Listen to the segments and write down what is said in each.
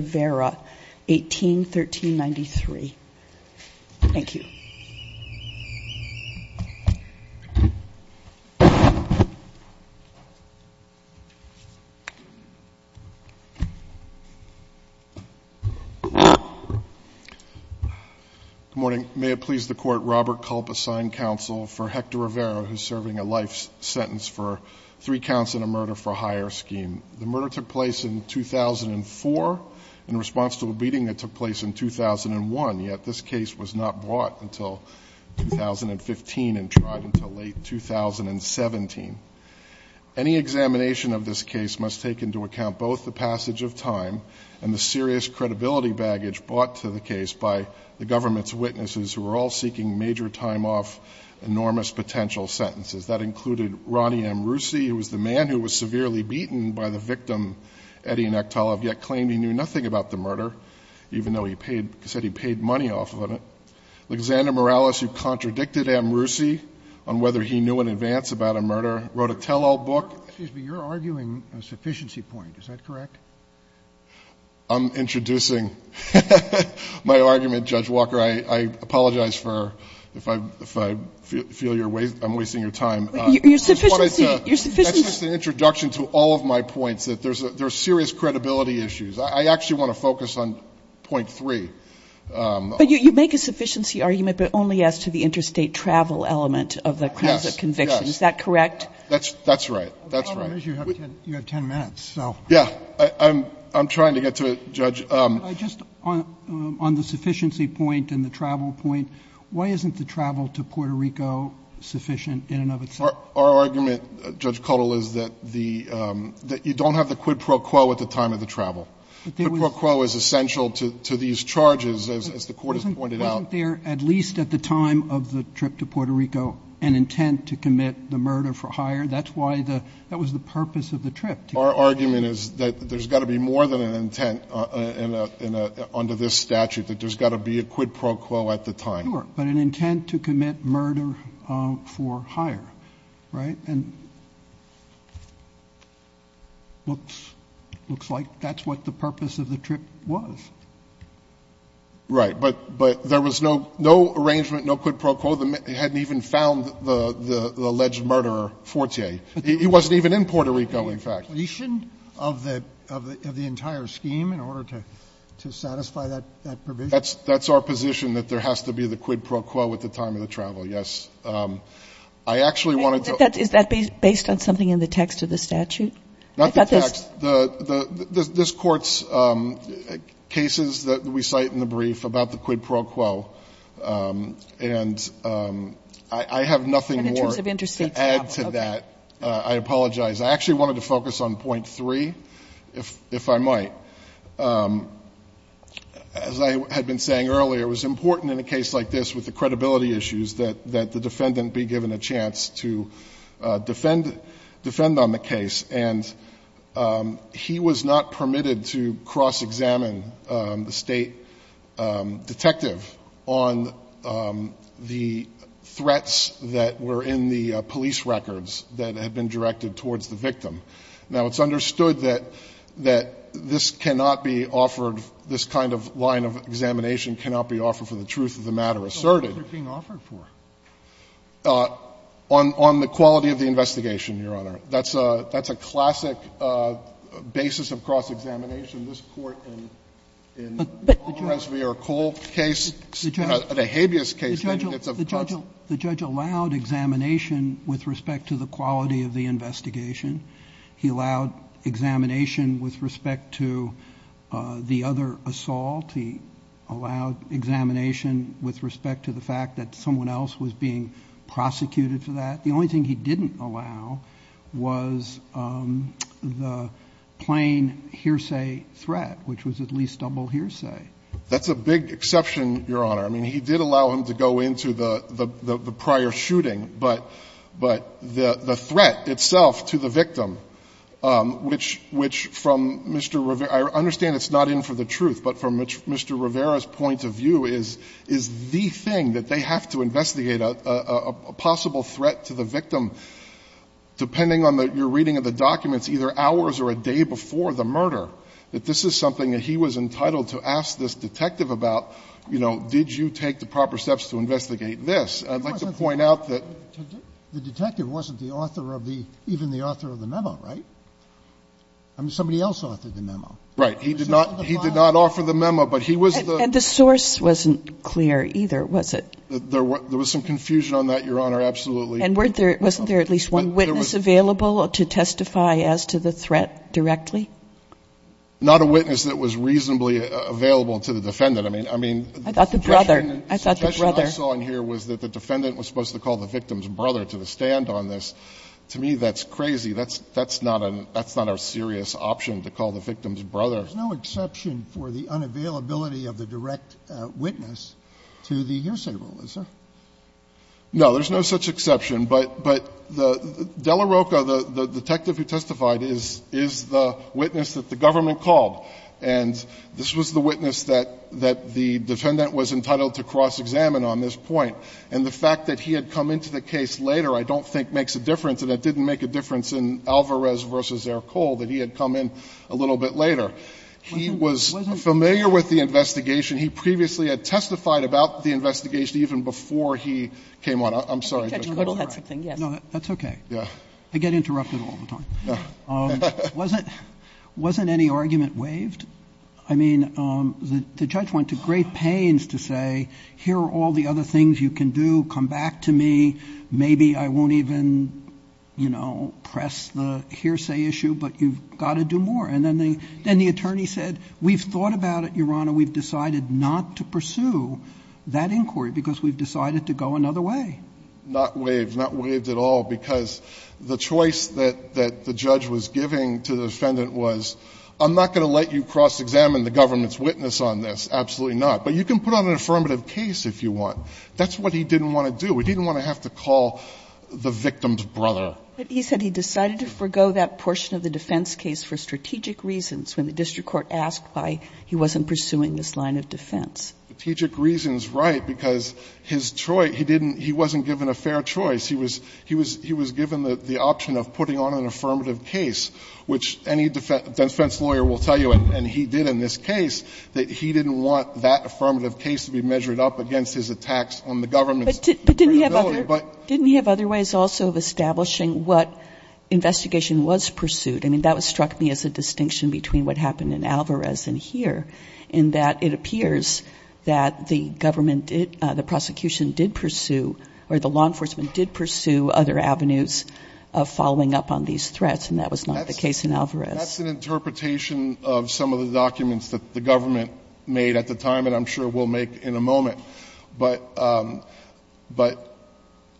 vera, 18-1393. Thank you. Good morning. May it please the Court, Robert Culp assigned counsel for Hector Rivera, who's serving a life sentence for three counts and a murder for a high-profile crime. Robert, the murder took place in 2004 in response to a beating that took place in 2001, yet this case was not brought until 2015 and tried until late 2017. Any examination of this case must take into account both the passage of time and the serious credibility baggage brought to the case by the government's witnesses, who were all seeking major time off, enormous potential sentences. That included Ronnie Amrussi, who was the man who was severely beaten by the victim, Eddie Nektarov, yet claimed he knew nothing about the murder, even though he said he paid money off of it. Alexander Morales, who contradicted Amrussi on whether he knew in advance about a murder, wrote a tell-all book. Excuse me, you're arguing a sufficiency point. Is that correct? I'm introducing my argument, Judge Walker. I apologize for, if I feel you're wasting your time. Your sufficiency. That's just an introduction to all of my points, that there's serious credibility issues. I actually want to focus on point three. But you make a sufficiency argument, but only as to the interstate travel element of the crimes of conviction. Yes, yes. Is that correct? That's right. That's right. You have 10 minutes, so. Yeah. I'm trying to get to it, Judge. Just on the sufficiency point and the travel point, why isn't the travel to Puerto Rico sufficient in and of itself? Our argument, Judge Cuddle, is that you don't have the quid pro quo at the time of the travel. The quid pro quo is essential to these charges, as the Court has pointed out. Wasn't there, at least at the time of the trip to Puerto Rico, an intent to commit the murder for hire? That's why the – that was the purpose of the trip. Our argument is that there's got to be more than an intent under this statute, that there's got to be a quid pro quo at the time. Sure. But an intent to commit murder for hire, right? And looks like that's what the purpose of the trip was. Right. But there was no arrangement, no quid pro quo. They hadn't even found the alleged murderer, Fortier. He wasn't even in Puerto Rico, in fact. So there's got to be a completion of the entire scheme in order to satisfy that provision. That's our position, that there has to be the quid pro quo at the time of the travel, yes. I actually wanted to – Is that based on something in the text of the statute? Not the text. This Court's cases that we cite in the brief about the quid pro quo, and I have nothing more to add to that. And in terms of interstate travel, okay. I apologize. I actually wanted to focus on point three, if I might. As I had been saying earlier, it was important in a case like this with the credibility issues that the defendant be given a chance to defend on the case. And he was not permitted to cross-examine the state detective on the threats that were in the police records that had been directed towards the victim. Now, it's understood that this cannot be offered, this kind of line of examination cannot be offered for the truth of the matter asserted. But what was it being offered for? On the quality of the investigation, Your Honor. That's a classic basis of cross-examination. This Court in the Coles v. Ercole case, the habeas case, it's of course – The judge allowed examination with respect to the quality of the investigation. He allowed examination with respect to the other assault. He allowed examination with respect to the fact that someone else was being prosecuted for that. The only thing he didn't allow was the plain hearsay threat, which was at least double hearsay. That's a big exception, Your Honor. I mean, he did allow him to go into the prior shooting, but the threat itself to the victim, which from Mr. Rivera's – I understand it's not in for the truth, but from Mr. Rivera's point of view is the thing that they have to investigate, a possible threat to the victim, depending on your reading of the documents, either hours or a day before the murder. And I think it's important to remember that this is something that he was entitled to ask this detective about, you know, did you take the proper steps to investigate this. I'd like to point out that the detective wasn't the author of the – even the author of the memo, right? I mean, somebody else authored the memo. Right. He did not offer the memo, but he was the – And the source wasn't clear either, was it? There was some confusion on that, Your Honor, absolutely. And weren't there – wasn't there at least one witness available to testify as to the threat directly? Not a witness that was reasonably available to the defendant. I mean, the suggestion I saw in here was that the defendant was supposed to call the victim's brother to the stand on this. To me, that's crazy. That's not a serious option, to call the victim's brother. There's no exception for the unavailability of the direct witness to the hearsay rule, is there? No. There's no such exception. But the – Dela Roca, the detective who testified, is the witness that the government called. And this was the witness that the defendant was entitled to cross-examine on this point. And the fact that he had come into the case later I don't think makes a difference. And it didn't make a difference in Alvarez v. Ercole that he had come in a little bit later. He was familiar with the investigation. He previously had testified about the investigation even before he came on. I'm sorry, Judge Kotler. No, that's okay. I get interrupted all the time. Wasn't any argument waived? I mean, the judge went to great pains to say, here are all the other things you can do. Come back to me. Maybe I won't even, you know, press the hearsay issue, but you've got to do more. And then the attorney said, we've thought about it, Your Honor. We've decided not to pursue that inquiry because we've decided to go another way. Not waived. Not waived at all, because the choice that the judge was giving to the defendant was, I'm not going to let you cross-examine the government's witness on this. Absolutely not. But you can put on an affirmative case if you want. That's what he didn't want to do. He didn't want to have to call the victim's brother. But he said he decided to forgo that portion of the defense case for strategic reasons when the district court asked why he wasn't pursuing this line of defense. Strategic reasons, right, because his choice, he didn't, he wasn't given a fair choice. He was given the option of putting on an affirmative case, which any defense lawyer will tell you, and he did in this case, that he didn't want that affirmative case to be measured up against his attacks on the government's credibility. But didn't he have other ways also of establishing what investigation was pursued? I mean, that struck me as a distinction between what happened in Alvarez and here, in that it appears that the government did, the prosecution did pursue, or the law enforcement did pursue other avenues of following up on these threats, and that was not the case in Alvarez. That's an interpretation of some of the documents that the government made at the time, and I'm sure will make in a moment. But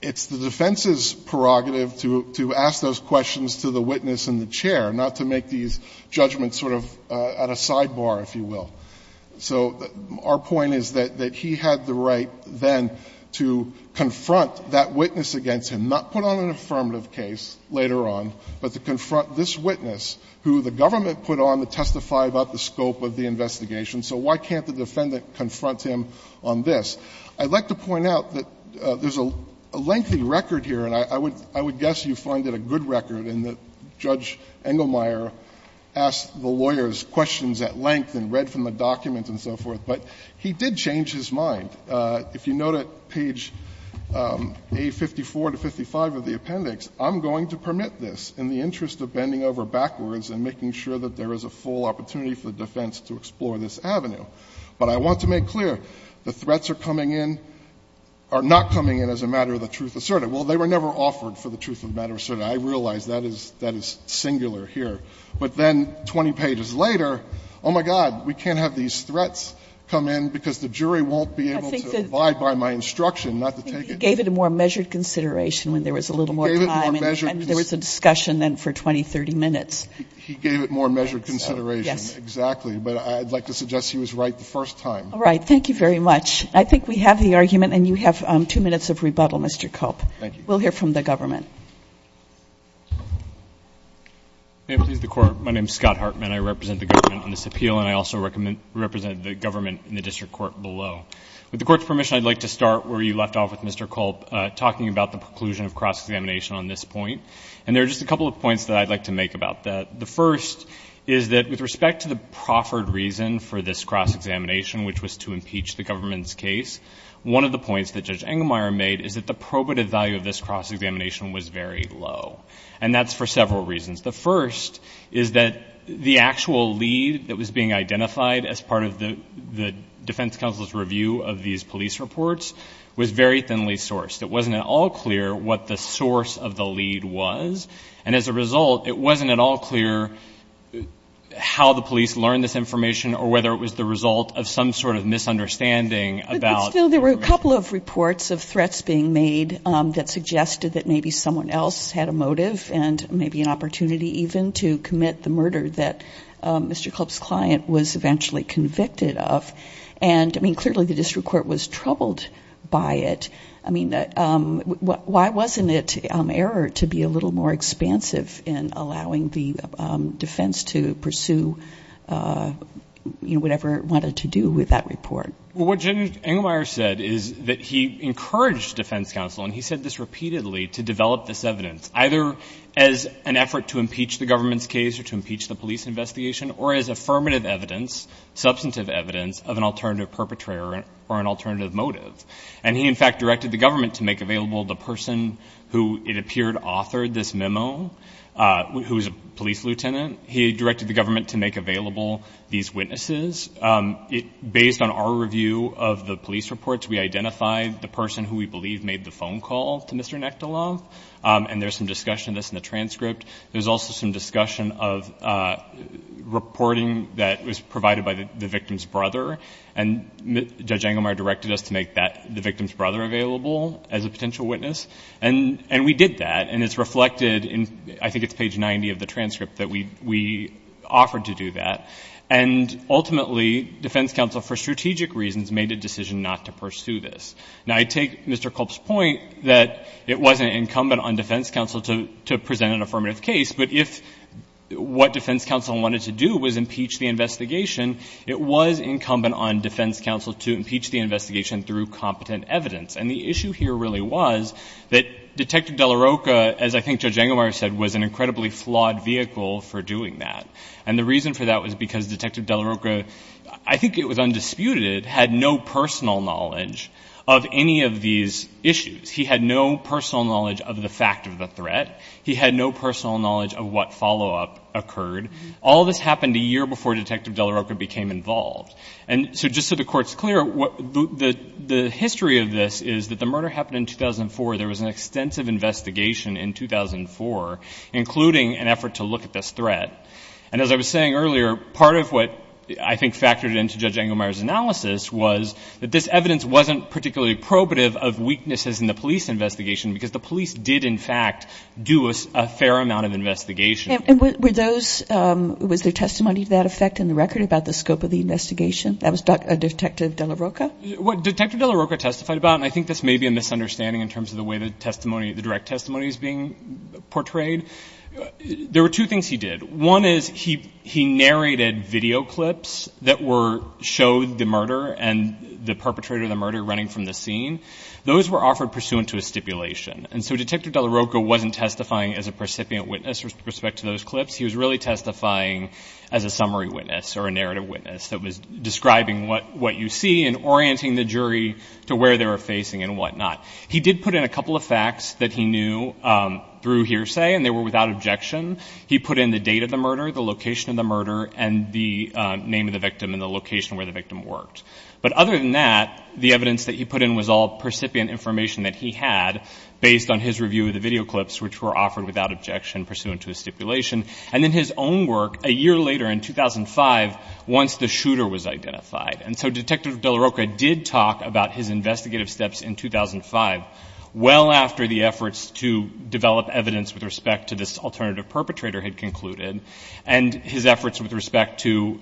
it's the defense's prerogative to ask those questions to the witness and the defense lawyer, not to make these judgments sort of at a sidebar, if you will. So our point is that he had the right then to confront that witness against him, not put on an affirmative case later on, but to confront this witness, who the government put on to testify about the scope of the investigation. So why can't the defendant confront him on this? I'd like to point out that there's a lengthy record here, and I would guess you find it a good record, in that Judge Engelmeyer asked the lawyer's questions at length and read from the document and so forth, but he did change his mind. If you note at page A54 to 55 of the appendix, I'm going to permit this in the interest of bending over backwards and making sure that there is a full opportunity for the defense to explore this avenue. But I want to make clear, the threats are coming in, are not coming in as a matter of the truth asserted. Well, they were never offered for the truth of the matter asserted. I realize that is singular here. But then 20 pages later, oh, my God, we can't have these threats come in because the jury won't be able to abide by my instruction not to take it. He gave it more measured consideration when there was a little more time and there was a discussion then for 20, 30 minutes. He gave it more measured consideration, exactly. But I'd like to suggest he was right the first time. All right. Thank you very much. I think we have the argument, and you have 2 minutes of rebuttal, Mr. Cope. Thank you. We'll hear from the government. May it please the Court. My name is Scott Hartman. I represent the government on this appeal, and I also represent the government in the district court below. With the court's permission, I'd like to start where you left off with Mr. Cope, talking about the preclusion of cross-examination on this point. And there are just a couple of points that I'd like to make about that. The first is that with respect to the proffered reason for this cross-examination, which was to impeach the government's case, one of the points that Judge Cope made was that the equitative value of this cross-examination was very low. And that's for several reasons. The first is that the actual lead that was being identified as part of the defense counsel's review of these police reports was very thinly sourced. It wasn't at all clear what the source of the lead was. And as a result, it wasn't at all clear how the police learned this information or whether it was the result of some sort of misunderstanding about— that suggested that maybe someone else had a motive and maybe an opportunity even to commit the murder that Mr. Cope's client was eventually convicted of. And, I mean, clearly the district court was troubled by it. I mean, why wasn't it error to be a little more expansive in allowing the defense to pursue whatever it wanted to do with that report? Well, what Judge Engelmeyer said is that he encouraged defense counsel, and he said this repeatedly, to develop this evidence either as an effort to impeach the government's case or to impeach the police investigation or as affirmative evidence, substantive evidence, of an alternative perpetrator or an alternative motive. And he, in fact, directed the government to make available the person who it appeared authored this memo, who was a police lieutenant. He directed the government to make available these witnesses. Based on our review of the police reports, we identified the person who we believe made the phone call to Mr. Nekteloff, and there's some discussion of this in the transcript. There's also some discussion of reporting that was provided by the victim's brother, and Judge Engelmeyer directed us to make that—the victim's brother available as a potential witness. And we did that, and it's reflected in—I think it's page 90 of the transcript that we offered to do that. And ultimately, defense counsel, for strategic reasons, made a decision not to pursue this. Now, I take Mr. Kolb's point that it wasn't incumbent on defense counsel to present an affirmative case, but if what defense counsel wanted to do was impeach the investigation, it was incumbent on defense counsel to impeach the investigation through competent evidence. And the issue here really was that Detective De La Roca, as I think Judge Engelmeyer said, was an incredibly flawed vehicle for doing that. And the reason for that was because Detective De La Roca, I think it was undisputed, had no personal knowledge of any of these issues. He had no personal knowledge of the fact of the threat. He had no personal knowledge of what follow-up occurred. All this happened a year before Detective De La Roca became involved. And so just so the Court's clear, the history of this is that the murder happened in 2004. There was an extensive investigation in 2004, including an effort to look at this threat. And as I was saying earlier, part of what I think factored into Judge Engelmeyer's analysis was that this evidence wasn't particularly probative of weaknesses in the police investigation because the police did in fact do a fair amount of investigation. And were those, was there testimony to that effect in the record about the scope of the investigation? That was Detective De La Roca? What Detective De La Roca testified about, and I think this may be a misunderstanding in terms of the way the testimony, the direct testimony is being portrayed, there were two things he did. One is he narrated video clips that were, showed the murder and the perpetrator of the murder running from the scene. Those were offered pursuant to a stipulation. And so Detective De La Roca wasn't testifying as a precipient witness with respect to those clips. He was really testifying as a summary witness or a narrative witness that was describing what you see and orienting the jury to where they were facing and whatnot. He did put in a couple of facts that he knew through hearsay and they were without objection. He put in the date of the murder, the location of the murder, and the name of the victim and the location where the victim worked. But other than that, the evidence that he put in was all precipient information that he had based on his review of the video clips which were offered without objection pursuant to a stipulation. And then his own work a year later in 2005 once the shooter was identified. And so Detective De La Roca did talk about his investigative steps in 2005 well after the efforts to develop evidence with respect to this alternative perpetrator had concluded and his efforts with respect to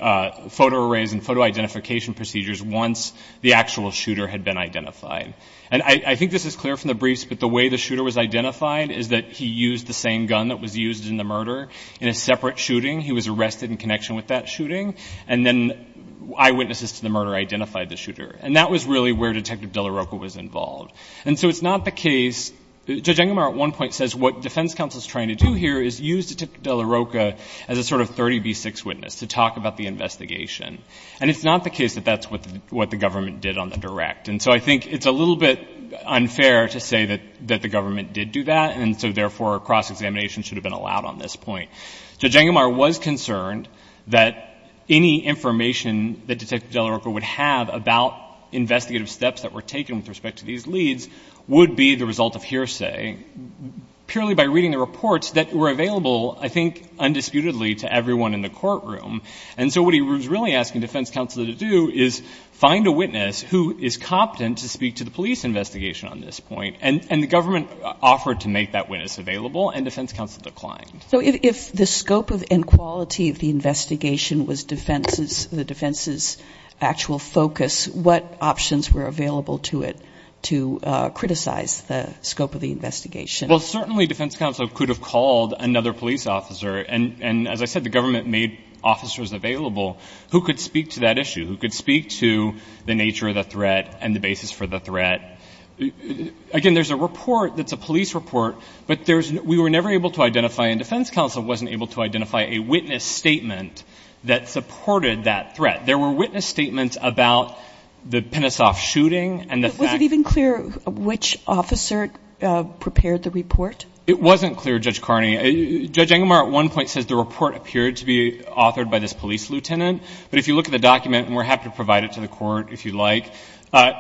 photo arrays and photo identification procedures once the actual shooter had been identified. And I think this is clear from the briefs but the way the shooter was identified is that he used the same gun that was used in the murder in a separate shooting. He was arrested in connection with that shooting and then eyewitnesses to the murder identified the shooter. And that was really where Detective De La Roca was involved. And so it's not the case, Judge Engelmar at one point says what defense counsel is trying to do here is use Detective De La Roca as a sort of 30B6 witness to talk about the investigation. And it's not the case that that's what the government did on the direct. And so I think it's a little bit unfair to say that the government did do that and so therefore a cross-examination should have been allowed on this point. Judge Engelmar was concerned that any information that Detective De La Roca would have about investigative steps that were taken with respect to these leads would be the result of hearsay purely by reading the reports that were available I think undisputedly to everyone in the courtroom. And so what he was really asking defense counsel to do is find a witness who is competent to speak to the police investigation on this point. And the government offered to make that witness available and defense counsel declined. So if the scope and quality of the investigation was the defense's actual focus, what options were available to it to criticize the scope of the investigation? Well, certainly defense counsel could have called another police officer and as I said, the government made officers available who could speak to that issue, who could speak to the nature of the threat and the basis for the threat. Again, there's a report that's a police report, but we were never able to defense counsel wasn't able to identify a witness statement that supported that threat. There were witness statements about the Penisoff shooting and the fact- Was it even clear which officer prepared the report? It wasn't clear, Judge Carney. Judge Engelmar at one point says the report appeared to be authored by this police lieutenant, but if you look at the document and we're happy to provide it to the court if you'd like,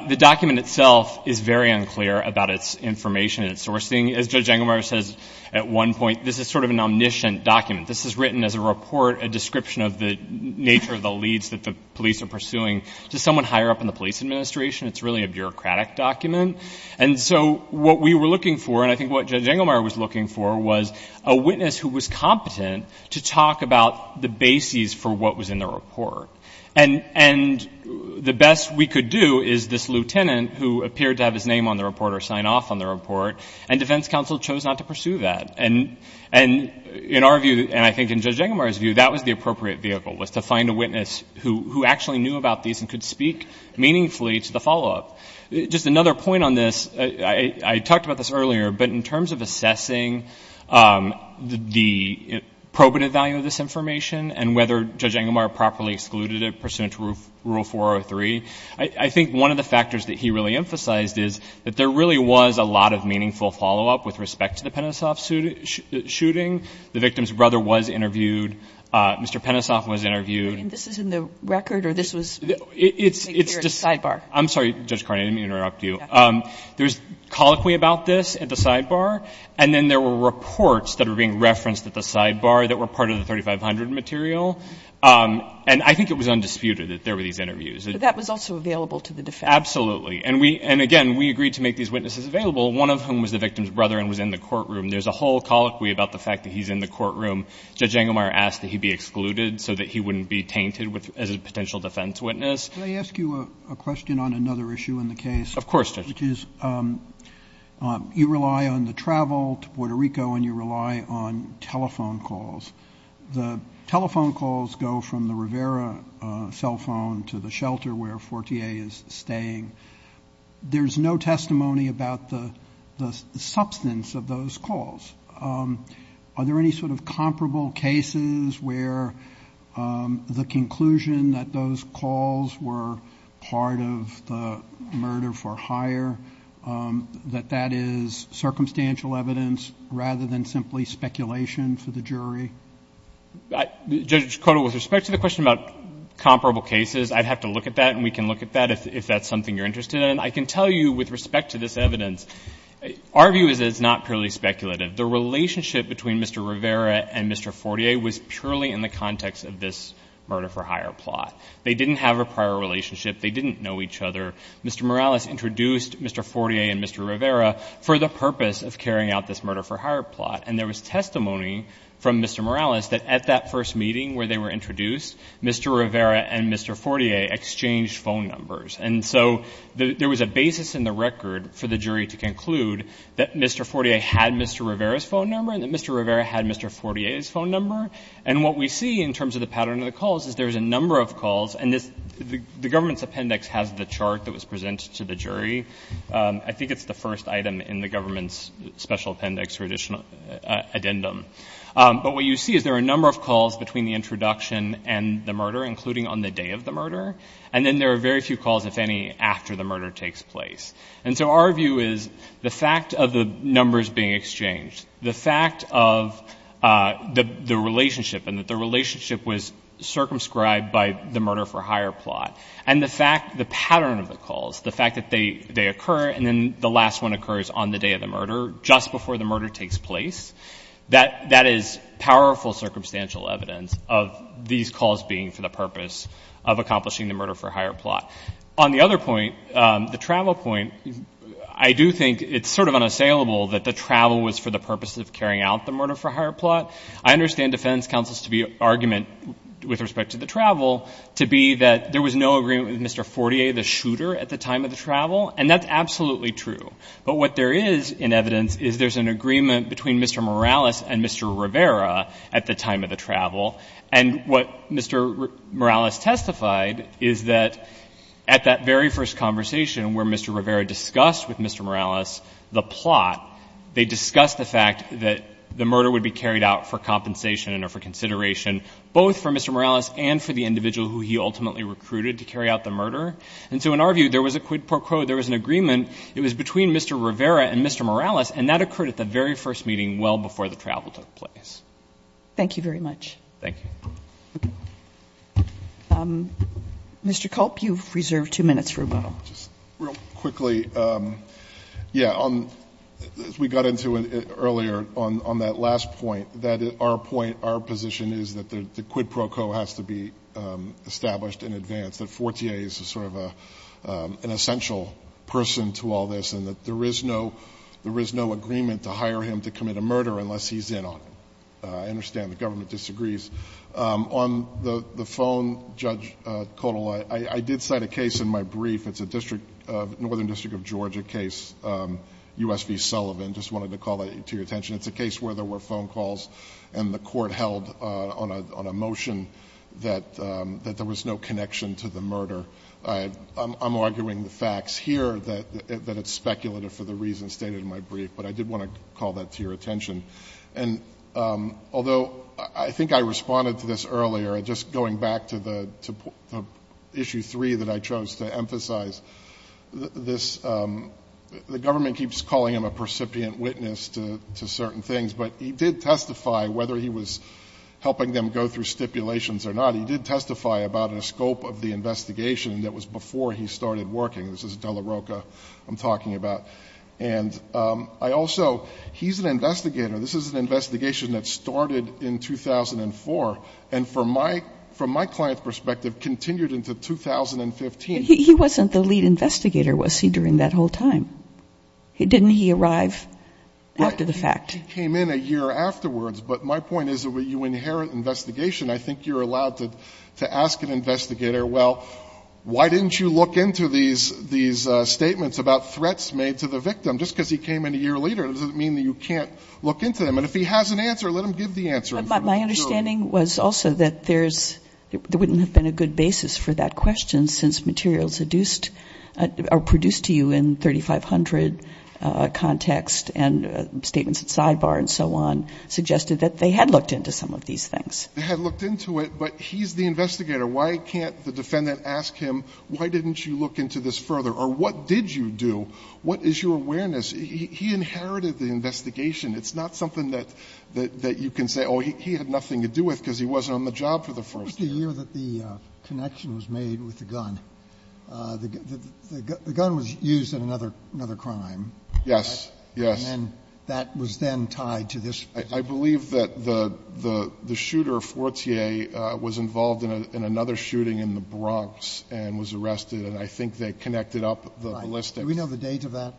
the document itself is very unclear about its information and at one point, this is sort of an omniscient document. This is written as a report, a description of the nature of the leads that the police are pursuing to someone higher up in the police administration. It's really a bureaucratic document. And so what we were looking for and I think what Judge Engelmar was looking for was a witness who was competent to talk about the basis for what was in the report. And the best we could do is this lieutenant who appeared to have his name on the report or And in our view, and I think in Judge Engelmar's view, that was the appropriate vehicle was to find a witness who actually knew about these and could speak meaningfully to the follow-up. Just another point on this, I talked about this earlier, but in terms of assessing the probative value of this information and whether Judge Engelmar properly excluded it pursuant to Rule 403, I think one of the factors that he really emphasized is that there really was a lot of meaningful follow-up with respect to the Penisoff shooting. The victim's brother was interviewed. Mr. Penisoff was interviewed. And this is in the record or this was made clear at the sidebar? I'm sorry, Judge Carney, let me interrupt you. There's colloquy about this at the sidebar. And then there were reports that are being referenced at the sidebar that were part of the 3500 material. And I think it was undisputed that there were these interviews. But that was also available to the defense. Absolutely. And again, we agreed to make these witnesses available, one of whom was the victim's brother and was in the courtroom. There's a whole colloquy about the fact that he's in the courtroom. Judge Engelmar asked that he be excluded so that he wouldn't be tainted as a potential defense witness. Can I ask you a question on another issue in the case? Of course, Judge. Which is you rely on the travel to Puerto Rico and you rely on telephone calls. The telephone calls go from the Rivera cell phone to the shelter where Fortier is staying. There's no testimony about the substance of those calls. Are there any sort of comparable cases where the conclusion that those calls were part of the murder for hire, that that is circumstantial evidence rather than simply speculation for the jury? Judge, with respect to the question about comparable cases, I'd have to look at that and we can look at that if that's something you're interested in. I can tell you with respect to this evidence, our view is that it's not purely speculative. The relationship between Mr. Rivera and Mr. Fortier was purely in the context of this murder for hire plot. They didn't have a prior relationship. They didn't know each other. Mr. Morales introduced Mr. Fortier and Mr. Rivera for the purpose of carrying out this murder for hire plot. And there was testimony from Mr. Morales that at that first meeting where they were introduced, Mr. Rivera and Mr. Fortier exchanged phone numbers. And so there was a basis in the record for the jury to conclude that Mr. Fortier had Mr. Rivera's phone number and that Mr. Rivera had Mr. Fortier's phone number. And what we see in terms of the pattern of the calls is there's a number of calls, and the government's appendix has the chart that was presented to the jury. I think it's the first item in the government's special appendix or addendum. But what you see is there are a number of calls between the introduction and the murder, including on the day of the murder. And then there are very few calls, if any, after the murder takes place. And so our view is the fact of the numbers being exchanged, the fact of the relationship and that the relationship was circumscribed by the murder for hire plot, and the fact the pattern of the calls, the fact that they occur and then the last one occurs on the day of the murder, just before the murder takes place, that is powerful circumstantial evidence of these calls being for the purpose of accomplishing the murder for hire plot. On the other point, the travel point, I do think it's sort of unassailable that the travel was for the purpose of carrying out the murder for hire plot. I understand defense counsel's argument with respect to the travel to be that there was no agreement with Mr. Fortier, the shooter, at the time of the travel, and that's absolutely true. But what there is in evidence is there's an agreement between Mr. Morales and Mr. Rivera at the time of the travel. And what Mr. Morales testified is that at that very first conversation where Mr. Rivera discussed with Mr. Morales the plot, they discussed the fact that the murder would be carried out for compensation and for consideration, both for Mr. Morales and for the individual who he ultimately recruited to carry out the murder. And so in our view, there was a quid pro quo, there was an agreement. It was between Mr. Rivera and Mr. Morales, and that occurred at the very first meeting well before the travel took place. Thank you very much. Thank you. Mr. Culp, you've reserved two minutes for rebuttal. Just real quickly, yeah, as we got into it earlier on that last point, that our point, our position is that the quid pro quo has to be established in advance, that Fortier is sort of an essential person to all this, and that there is no agreement to hire him to commit a murder unless he's in on it. I understand the government disagrees. On the phone, Judge Codal, I did cite a case in my brief. It's a Northern District of Georgia case, U.S. v. Sullivan. Just wanted to call that to your attention. It's a case where there were phone calls and the court held on a motion that there was no connection to the murder. I'm arguing the facts here that it's speculative for the reasons stated in my brief, but I did want to call that to your attention. And although I think I responded to this earlier, just going back to the issue three that I chose to emphasize, this, the government keeps calling him a percipient witness to certain things, but he did testify whether he was helping them go through stipulations or not. He did testify about a scope of the investigation that was before he started working. This is at Dela Roca I'm talking about. And I also, he's an investigator. This is an investigation that started in 2004 and from my client's perspective, continued into 2015. He wasn't the lead investigator, was he, during that whole time? Didn't he arrive after the fact? He came in a year afterwards, but my point is that you inherit investigation. I think you're allowed to ask an investigator, well, why didn't you look into these statements about threats made to the victim? Just because he came in a year later, doesn't mean that you can't look into them. And if he has an answer, let him give the answer. And from the jury. But my understanding was also that there's, there wouldn't have been a good basis for that question since materials produced to you in 3500 context and statements at sidebar and so on suggested that they had looked into some of these things. They had looked into it, but he's the investigator. Why can't the defendant ask him, why didn't you look into this further? Or what did you do? What is your awareness? He inherited the investigation. It's not something that you can say, oh, he had nothing to do with because he wasn't on the job for the first year. The year that the connection was made with the gun. The gun was used in another crime. Yes, yes. And that was then tied to this. I believe that the shooter, Fortier, was involved in another shooting in the Bronx and was arrested, and I think that connected up the ballistics. Do we know the date of that?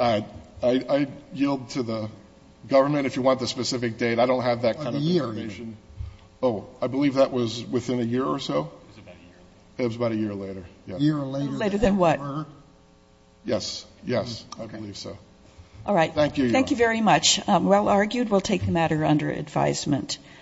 I yield to the government if you want the specific date. I don't have that kind of information. What year? Oh, I believe that was within a year or so. It was about a year later. A year later than what? Yes, yes, I believe so. All right. Thank you very much. Well argued. We'll take the matter under advisement.